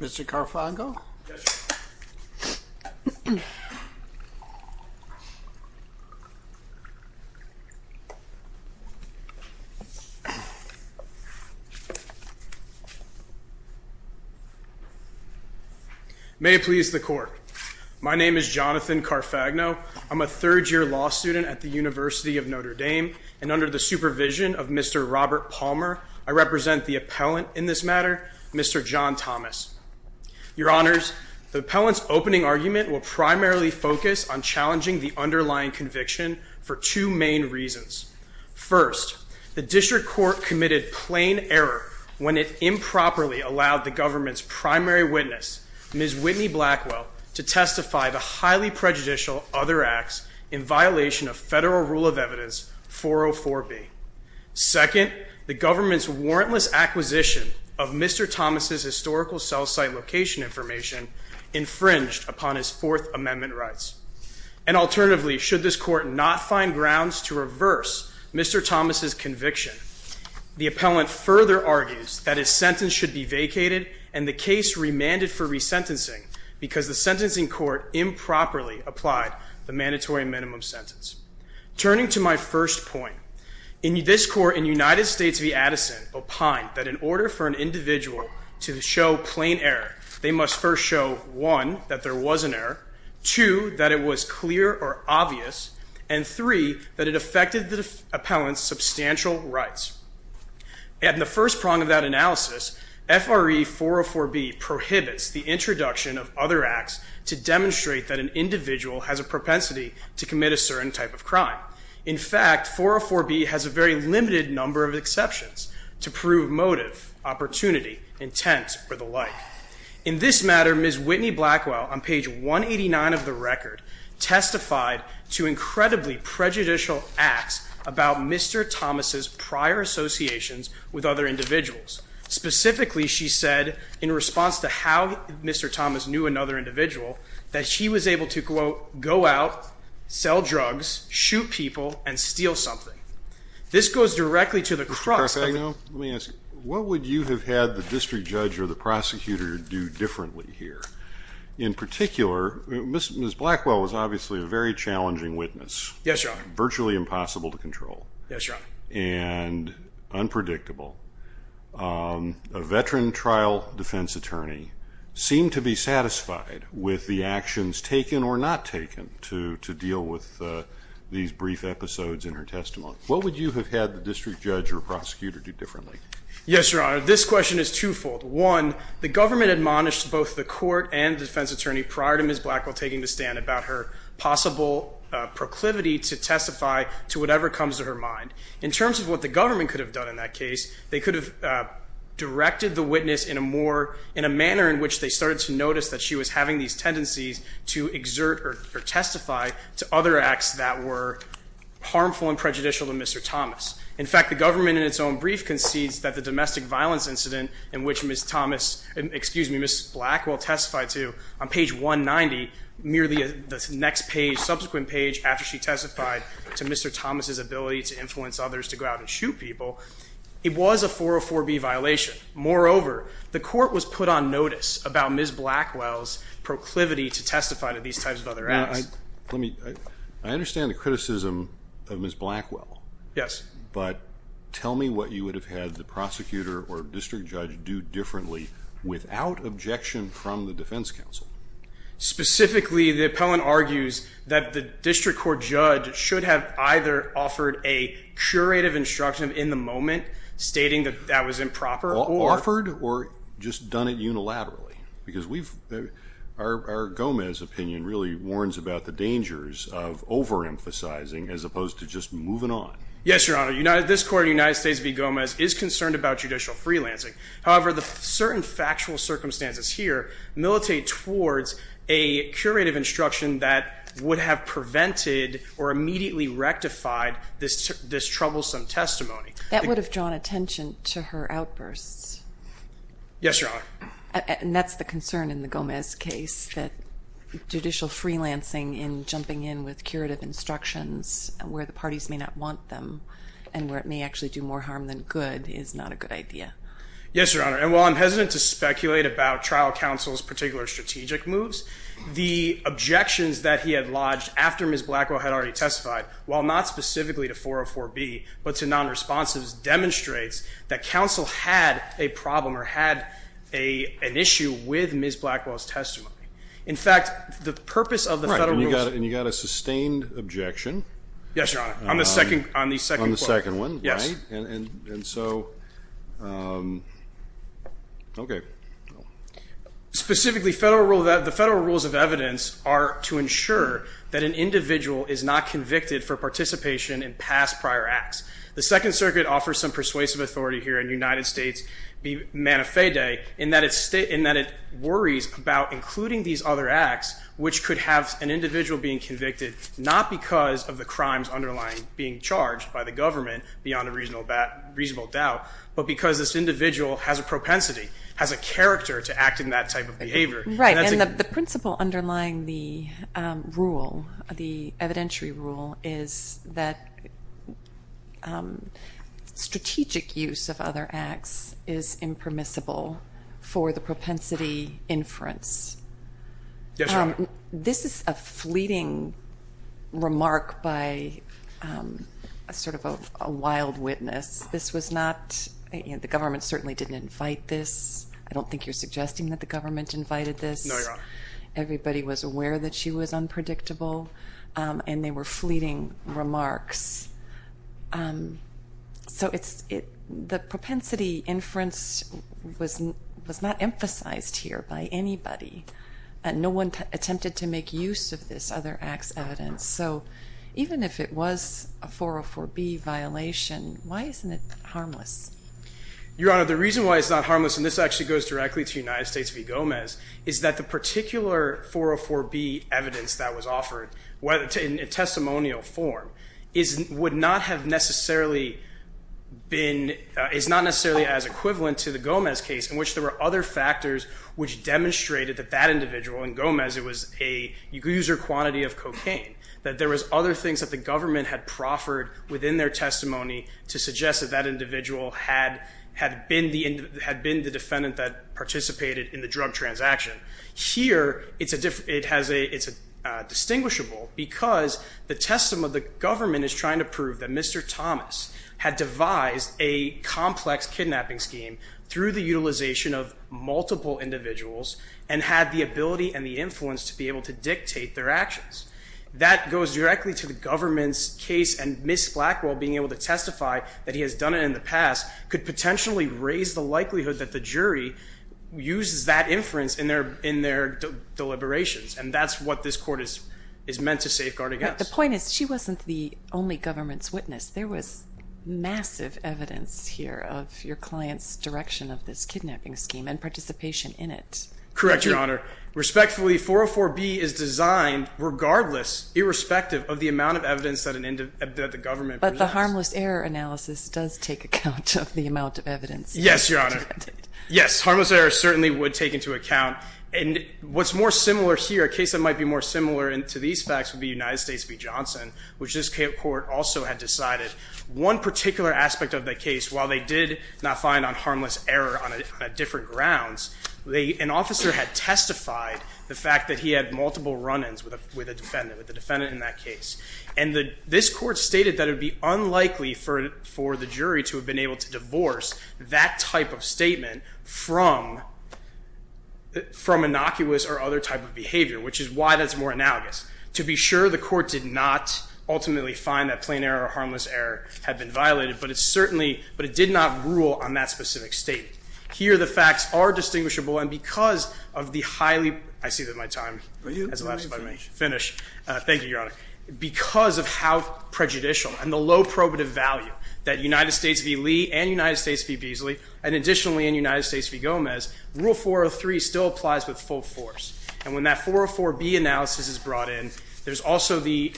Mr. Carfagno? May it please the Court. My name is Jonathan Carfagno. I'm a third year law student at the University of Notre Dame, and under the supervision of Mr. Robert Palmer, I represent the appellant in this matter, Mr. John Thomas. Your Honors, the appellant's opening argument will primarily focus on challenging the underlying conviction for two main reasons. First, the district court committed plain error when it improperly allowed the government's primary witness, Ms. Whitney Blackwell, to testify the highly prejudicial other acts in violation of Federal Rule of Evidence 404B. Second, the government's warrantless acquisition of Mr. Thomas' historical cell site location information infringed upon his Fourth Amendment rights. And alternatively, should this court not find grounds to reverse Mr. Thomas' conviction, the appellant further argues that his sentence should be vacated and the case remanded for resentencing because the sentencing court improperly applied the mandatory minimum sentence. Turning to my first point, this court in United States v. Addison opined that in order for an individual to show plain error, they must first show, one, that there was an error, two, that it was clear or obvious, and three, that it affected the appellant's substantial rights. In the first prong of that analysis, FRE 404B prohibits the introduction of other acts to demonstrate that an individual has a propensity to commit a certain type of crime. In fact, 404B has a very limited number of exceptions to prove motive, opportunity, intent, or the like. In this matter, Ms. Whitney Blackwell, on page 189 of the record, testified to incredibly prejudicial acts about Mr. Thomas' prior associations with other individuals. Specifically, she said, in response to how Mr. Thomas knew another individual, that she was able to, quote, go out, sell drugs, shoot people, and steal something. This goes directly to the crux... Mr. Carfagno, let me ask you, what would you have had the district judge or the prosecutor do differently here? In particular, Ms. Blackwell was obviously a very challenging witness. Yes, Your Honor. Virtually impossible to control. Yes, Your Honor. And unpredictable. A veteran trial defense attorney seemed to be satisfied with the actions taken or not taken to deal with these brief episodes in her testimony. What would you have had the district judge or prosecutor do differently? Yes, Your Honor. This question is twofold. One, the government admonished both the court and the defense attorney prior to Ms. Blackwell taking the stand about her possible proclivity to testify to whatever comes to her mind. In terms of what the government could have done in that case, they could have directed the witness in a manner in which they started to notice that she was having these tendencies to exert or testify to other acts that were harmful and prejudicial to Mr. Thomas. In fact, the government in its own brief concedes that the domestic violence incident in which Ms. Thomas... Excuse me, Ms. Blackwell testified to on page 190, merely the next page, subsequent page, after she testified to Mr. Thomas' ability to influence others to go out and shoot people, it was a 404B violation. Moreover, the court was put on notice about Ms. Blackwell's proclivity to testify to these types of other acts. Now, let me... I understand the criticism of Ms. Blackwell. Yes. But tell me what you would have had the prosecutor or district judge do differently without objection from the defense counsel. Specifically, the appellant argues that the district court judge should have either offered a curative instruction in the moment, stating that that was improper or... Offered or just done it unilaterally. Because we've... Our Gomez opinion really warns about the dangers of overemphasizing as opposed to just moving on. Yes, Your Honor. This court in the United States v. Gomez is concerned about judicial freelancing. However, the certain factual circumstances here militate towards a curative instruction that would have prevented or immediately rectified this troublesome testimony. That would have drawn attention to her outbursts. Yes, Your Honor. And that's the concern in the Gomez case, that judicial freelancing in jumping in with curative instructions where the parties may not want them and where it may actually do more harm than good is not a good idea. Yes, Your Honor. And while I'm hesitant to speculate about trial counsel's particular strategic moves, the objections that he had lodged after Ms. Blackwell had already testified, while not specifically to 404B, but to non-responsives, demonstrates that counsel had a problem or had an issue with Ms. Blackwell's testimony. In fact, the purpose of the federal rules... Right, and you got a sustained objection. Yes, Your Honor, on the second... On the second one, right? Yes. And so... Okay. Specifically, the federal rules of evidence are to ensure that an individual is not convicted for participation in past prior acts. The Second Circuit offers some persuasive authority here in United States Manifesto in that it worries about including these other acts which could have an individual being convicted not because of the crimes underlying being charged by the government, beyond a reasonable doubt, but because this individual has a propensity, has a character to act in that type of behavior. Right, and the principle underlying the rule, the evidentiary rule, is that strategic use of other acts is impermissible for the propensity inference. Yes, Your Honor. This is a fleeting remark by sort of a wild witness. This was not... The government certainly didn't invite this. that the government invited this. No, Your Honor. Everybody was aware that she was unpredictable, and they were fleeting remarks. So the propensity inference was not emphasized here by anybody. No one attempted to make use of this other acts evidence. So even if it was a 404B violation, why isn't it harmless? Your Honor, the reason why it's not harmless, and this actually goes directly to United States v. Gomez, is that the particular 404B evidence that was offered, in testimonial form, would not have necessarily been... is not necessarily as equivalent to the Gomez case, in which there were other factors which demonstrated that that individual, in Gomez, it was a user quantity of cocaine, that there was other things that the government had proffered within their testimony to suggest that that individual had been the defendant that participated in the drug transaction. Here, it's distinguishable because the testimony of the government is trying to prove that Mr. Thomas had devised a complex kidnapping scheme through the utilization of multiple individuals and had the ability and the influence to be able to dictate their actions. That goes directly to the government's case, and Ms. Blackwell being able to testify that he has done it in the past could potentially raise the likelihood that the jury uses that inference in their deliberations, and that's what this court is meant to safeguard against. But the point is, she wasn't the only government's witness. There was massive evidence here of your client's direction of this kidnapping scheme and participation in it. Correct, Your Honor. Respectfully, 404B is designed, regardless, irrespective of the amount of evidence that the government presents. But the harmless error analysis does take account of the amount of evidence... Yes, Your Honor. Yes, harmless error certainly would take into account. And what's more similar here, a case that might be more similar to these facts would be United States v. Johnson, which this court also had decided one particular aspect of the case, while they did not find on harmless error on different grounds, an officer had testified the fact that he had multiple run-ins with the defendant in that case. And this court stated that it would be unlikely for the jury to have been able to divorce that type of statement from... from innocuous or other type of behavior, which is why that's more analogous. To be sure, the court did not ultimately find that plain error or harmless error had been violated, but it certainly... but it did not rule on that specific statement. Here, the facts are distinguishable, and because of the highly... I see that my time has elapsed by the minute. Finish. Thank you, Your Honor. Because of how prejudicial and the low probative value that United States v. Lee and United States v. Beasley and additionally in United States v. Gomez, Rule 403 still applies with full force. And when that 404B analysis is brought in, there's also the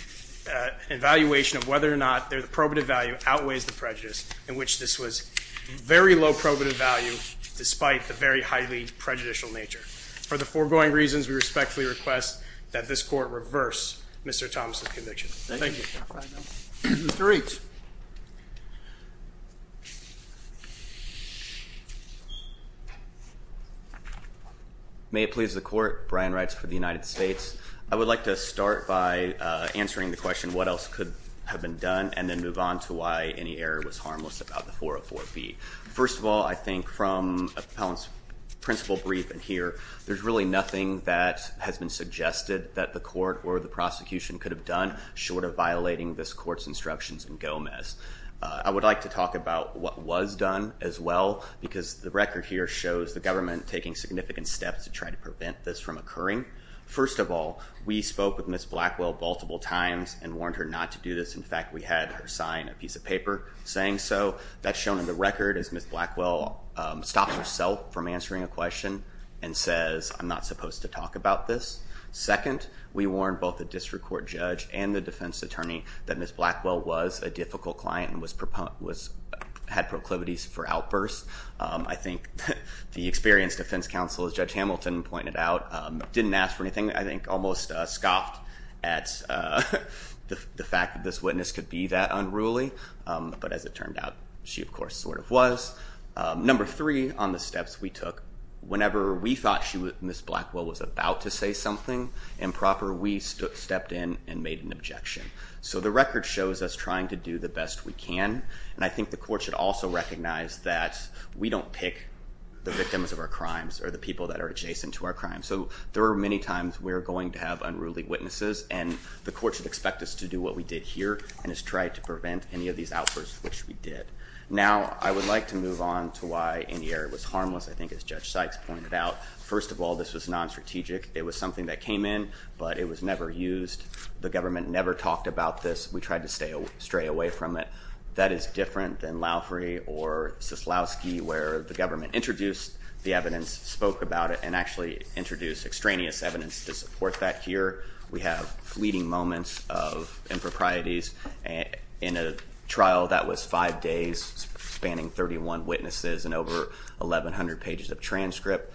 evaluation of whether or not the probative value outweighs the prejudice, in which this was very low probative value despite the very highly prejudicial nature. For the foregoing reasons, we respectfully request that this court reverse Mr. Thomas' conviction. Thank you. Mr. Reeks. May it please the court, Brian Reitz for the United States. I would like to start by answering the question what else could have been done and then move on to why any error was harmless about the 404B. First of all, I think from Appellant's principle brief in here, there's really nothing that has been suggested that the court or the prosecution could have done short of violating this court's instructions in Gomez. I would like to talk about what was done as well because the record here shows the government taking significant steps to try to prevent this from occurring. First of all, we spoke with Ms. Blackwell multiple times and warned her not to do this. In fact, we had her sign a piece of paper saying so. That's shown in the record as Ms. Blackwell stops herself from answering a question and says, I'm not supposed to talk about this. Second, we warned both the district court judge and the defense attorney that Ms. Blackwell was a difficult client and had proclivities for outbursts. I think the experienced defense counsel, as Judge Hamilton pointed out, didn't ask for anything. I think almost scoffed at the fact that this witness could be that unruly. But as it turned out, she of course sort of was. Number three on the steps we took, whenever we thought Ms. Blackwell was about to say something improper, we stepped in and made an objection. So the record shows us trying to do the best we can. And I think the court should also recognize that we don't pick the victims of our crimes or the people that are adjacent to our crimes. So there are many times we are going to have unruly witnesses and the court should expect us to do what we did here and try to prevent any of these outbursts, which we did. Now, I would like to move on to why Indiara was harmless, I think as Judge Sykes pointed out. First of all, this was non-strategic. It was something that came in, but it was never used. The government never talked about this. We tried to stray away from it. That is different than Lowry or Suslowski, where the government introduced the evidence, spoke about it, and actually introduced extraneous evidence to support that here. We have fleeting moments of improprieties. In a trial that was five days spanning 31 witnesses and over 1,100 pages of transcript,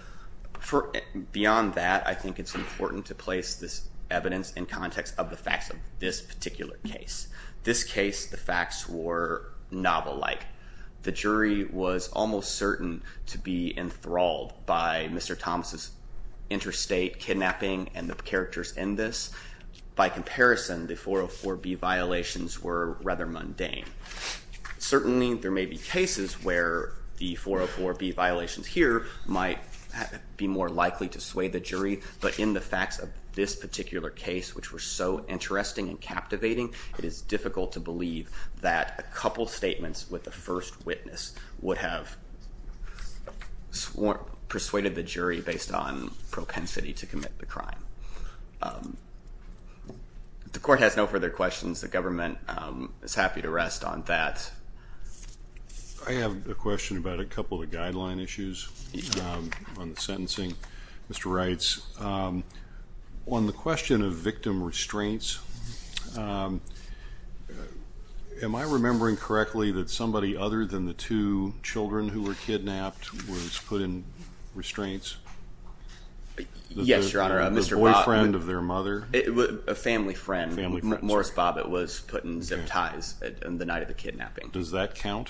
beyond that, I think it's important to place this evidence in context of the facts of this particular case. This case, the facts were novel-like. The jury was almost certain to be enthralled by Mr. Thomas's interstate kidnapping and the characters in this. By comparison, the 404B violations were rather mundane. Certainly, there may be cases where the 404B violations here might be more likely to sway the jury, but in the facts of this particular case, which were so interesting and captivating, it is difficult to believe that a couple statements with the first witness would have persuaded the jury based on propensity to commit the crime. The court has no further questions. The government is happy to rest on that. I have a question about a couple of guideline issues on the sentencing. Mr. Reitz, on the question of victim restraints, am I remembering correctly that somebody other than the two children who were kidnapped was put in restraints? Yes, Your Honor. The boyfriend of their mother? A family friend, Morris Bobbitt, was put in zip ties the night of the kidnapping. Does that count?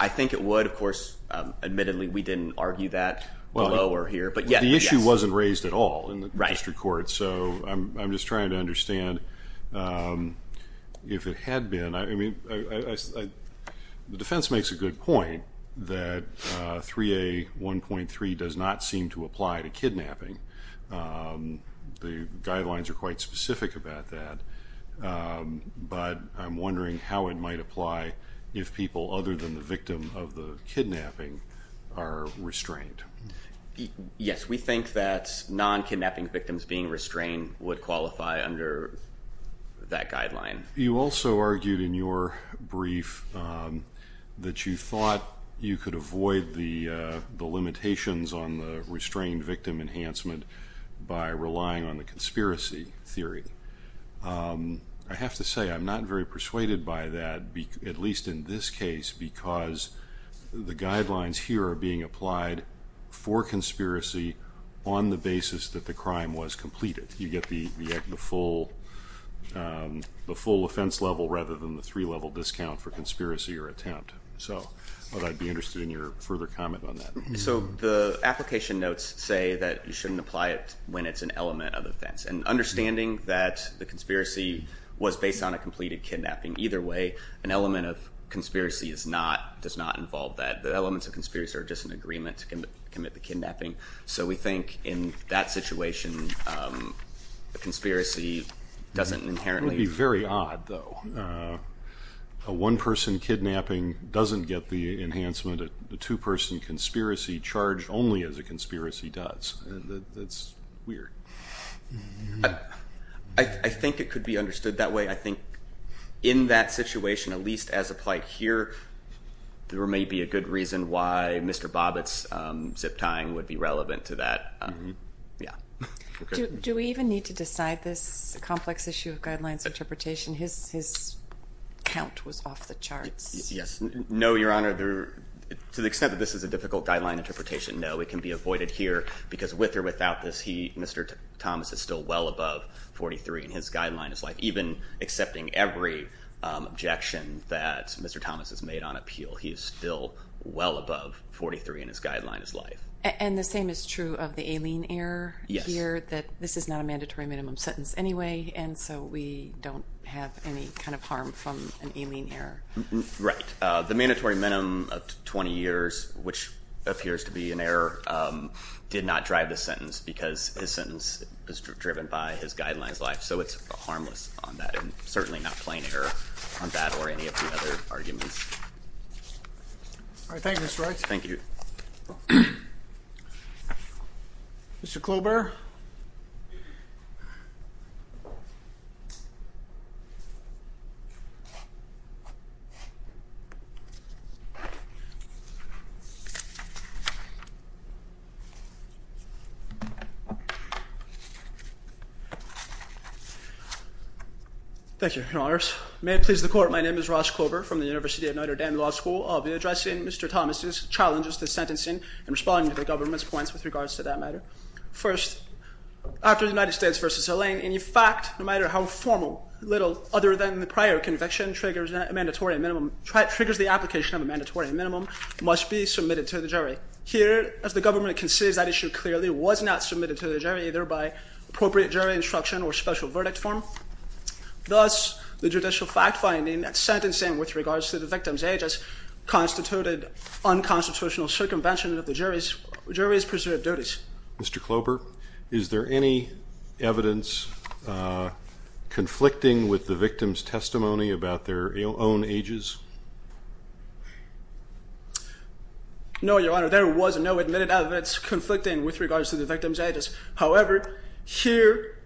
I think it would, of course. Admittedly, we didn't argue that below or here, but yes. The issue wasn't raised at all in the district court, so I'm just trying to understand if it had been. The defense makes a good point that 3A1.3 does not seem to apply to kidnapping. The guidelines are quite specific about that, but I'm wondering how it might apply if people other than the victim of the kidnapping are restrained. Yes, we think that non-kidnapping victims being restrained would qualify under that guideline. You also argued in your brief that you thought you could avoid the limitations on the restrained victim enhancement by relying on the conspiracy theory. I have to say I'm not very persuaded by that, at least in this case, because the guidelines here are being applied for conspiracy on the basis that the crime was completed. You get the full offense level rather than the three-level discount for conspiracy or attempt. I'd be interested in your further comment on that. The application notes say that you shouldn't apply it when it's an element of offense. Understanding that the conspiracy was based on a completed kidnapping, either way, an element of conspiracy does not involve that. The elements of conspiracy are just an agreement to commit the kidnapping. We think in that situation, the conspiracy doesn't inherently... It would be very odd, though. A one-person kidnapping doesn't get the enhancement. A two-person conspiracy charged only as a conspiracy does. That's weird. I think it could be understood that way. I think in that situation, at least as applied here, there may be a good reason why Mr. Bobbitt's zip-tying would be relevant to that. Do we even need to decide this complex issue of guidelines interpretation? His count was off the charts. Yes. No, Your Honor. To the extent that this is a difficult guideline interpretation, no. It can be avoided here because with or without this, Mr. Thomas is still well above 43 in his guideline as life. Even accepting every objection that Mr. Thomas has made on appeal, he is still well above 43 in his guideline as life. And the same is true of the Aileen error here, that this is not a mandatory minimum sentence anyway, and so we don't have any kind of harm from an Aileen error. Right. The mandatory minimum of 20 years, which appears to be an error, did not drive the sentence because his sentence is driven by his guideline as life, so it's harmless on that and certainly not plain error on that or any of the other arguments. All right. Thank you, Mr. Wright. Thank you. Mr. Klobuchar? Thank you. Thank you, Your Honors. May it please the Court, my name is Ross Klobuchar from the University of Notre Dame Law School. I'll be addressing Mr. Thomas' challenges to sentencing and responding to the government's points with regards to that matter. First, after the United States v. Elaine, any fact, no matter how formal, little other than the prior conviction triggers the application of a mandatory minimum, must be submitted to the jury. Here, as the government considers that issue clearly, was not submitted to the jury either by appropriate jury instruction or special verdict form. Thus, the judicial fact-finding at sentencing with regards to the victim's age constitutes unconstitutional circumvention of the jury's preserved duties. Mr. Klobuchar, is there any evidence conflicting with the victim's testimony about their own ages? No, Your Honor, there was no admitted evidence conflicting with regards to the victim's ages. However, here,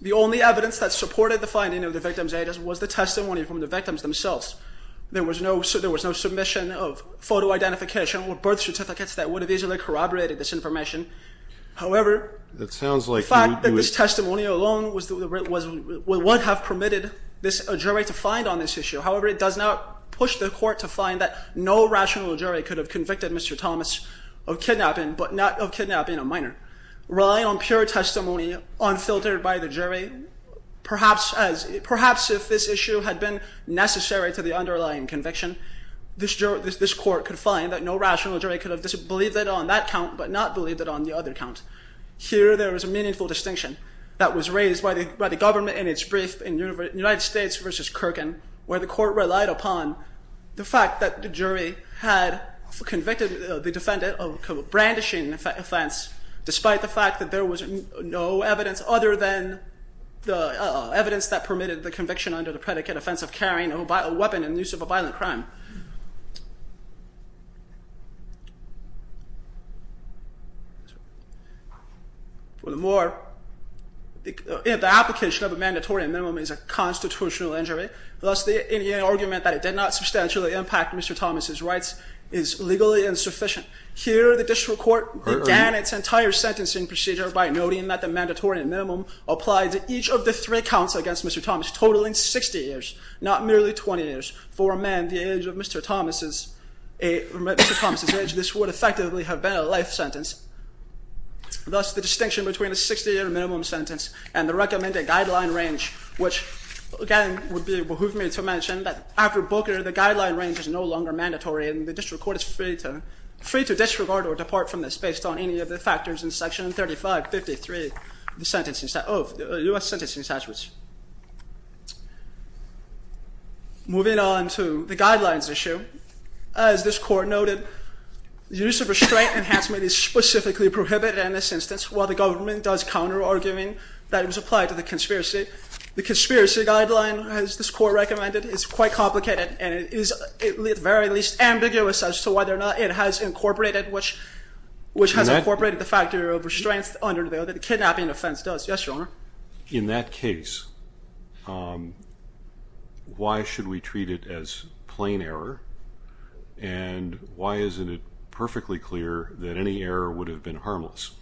the only evidence that supported the finding of the victim's ages was the testimony from the victims themselves. There was no submission of photo identification or birth certificates that would have easily corroborated this information. However, the fact that this testimony alone would have permitted a jury to find on this issue. However, it does not push the court to find that no rational jury could have convicted Mr. Thomas of kidnapping, but not of kidnapping a minor. Relying on pure testimony unfiltered by the jury, perhaps if this issue had been necessary to the underlying conviction, this court could find that no rational jury could have believed it on that count, but not believed it on the other count. Here, there is a meaningful distinction that was raised by the government in its brief in United States v. Kirkland, where the court relied upon the fact that the jury had convicted the defendant of a brandishing offense, despite the fact that there was no evidence other than the evidence that permitted the conviction under the predicate offense of carrying a weapon in the use of a violent crime. Furthermore, the application of a mandatory minimum is a constitutional injury, thus the argument that it did not substantially impact Mr. Thomas' rights is legally insufficient. Here, the district court began its entire sentencing procedure by noting that the mandatory minimum applied to each of the three counts against Mr. Thomas, totaling 60 years, not merely 20 years. For a man the age of Mr. Thomas' age, this would effectively have been a life sentence. Thus, the distinction between a 60-year minimum sentence and the recommended guideline range, which again would be behoove me to mention that after Booker, the guideline range is no longer mandatory and the district court is free to disregard or depart from this based on any of the factors in Section 3553 of the U.S. Sentencing Statutes. Moving on to the guidelines issue, as this court noted, use of restraint enhancement is specifically prohibited in this instance, while the government does counter-arguing that it was applied to the conspiracy. The conspiracy guideline, as this court recommended, is quite complicated and it is at the very least ambiguous as to whether or not it has incorporated the factor of restraint under the kidnapping offense. Yes, Your Honor. In that case, why should we treat it as plain error, and why isn't it perfectly clear that any error would have been harmless?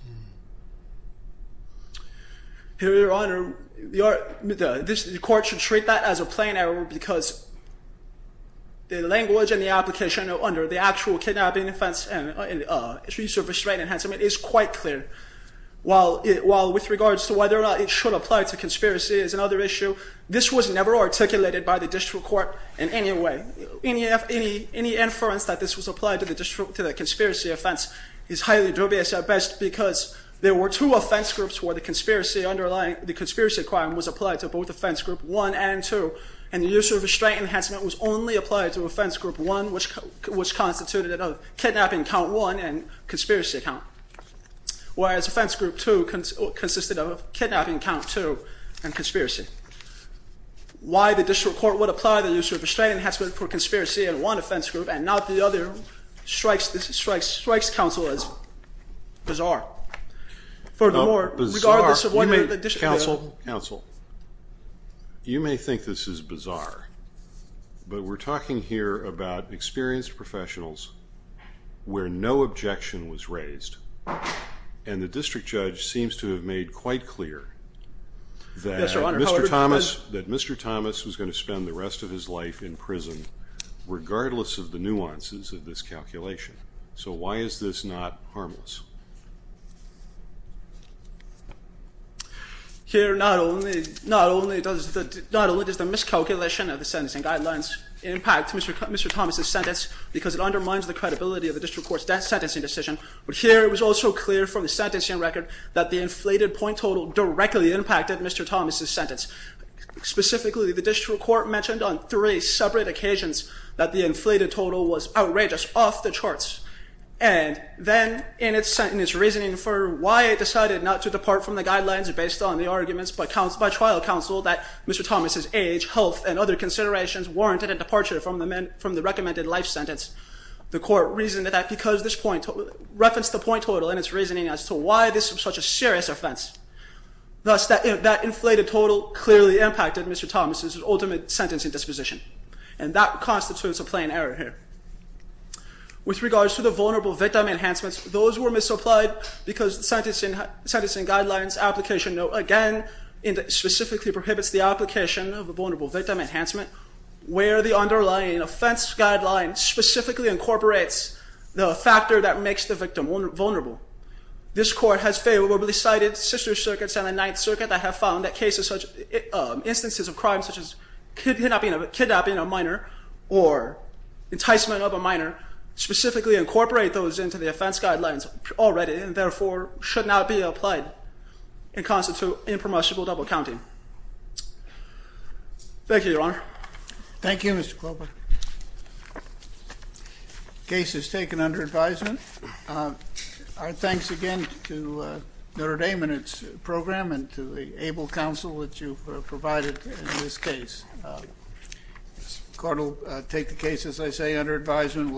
Your Honor, the court should treat that as a plain error because the language and the application under the actual kidnapping offense and use of restraint enhancement is quite clear. While with regards to whether or not it should apply to conspiracy is another issue, this was never articulated by the district court in any way. Any inference that this was applied to the conspiracy offense is highly dubious at best because there were two offense groups where the conspiracy requirement was applied to, both offense group one and two, and the use of restraint enhancement was only applied to offense group one, which constituted of kidnapping count one and conspiracy count, whereas offense group two consisted of kidnapping count two and conspiracy. Why the district court would apply the use of restraint enhancement for conspiracy in one offense group and not the other strikes counsel as bizarre. Furthermore, regardless of whether the district court... Counsel, you may think this is bizarre, but we're talking here about experienced professionals where no objection was raised, and the district judge seems to have made quite clear that Mr. Thomas was going to spend the rest of his life in prison regardless of the nuances of this calculation. So why is this not harmless? Here not only does the miscalculation of the sentencing guidelines impact Mr. Thomas' sentence because it undermines the credibility of the district court's sentencing decision, but here it was also clear from the sentencing record that the inflated point total directly impacted Mr. Thomas' sentence. Specifically, the district court mentioned on three separate occasions that the inflated total was outrageous, off the charts, and then in its reasoning for why it decided not to depart from the guidelines based on the arguments by trial counsel that Mr. Thomas' age, health, and other considerations warranted a departure from the recommended life sentence, the court reasoned that because this point... referenced the point total in its reasoning as to why this was such a serious offense. Thus, that inflated total clearly impacted Mr. Thomas' ultimate sentencing disposition, and that constitutes a plain error here. With regards to the vulnerable victim enhancements, those were misapplied because the sentencing guidelines application note, again, specifically prohibits the application of a vulnerable victim enhancement where the underlying offense guideline specifically incorporates the factor that makes the victim vulnerable. This court has favorably cited sister circuits and the Ninth Circuit that have found that instances of crime such as kidnapping a minor or enticement of a minor specifically incorporate those into the offense guidelines already and therefore should not be applied and constitute impermissible double counting. Thank you, Your Honor. Thank you, Mr. Klobuchar. Case is taken under advisement. Our thanks again to Notre Dame and its program and to the able counsel that you've provided in this case. The court will take the case, as I say, under advisement.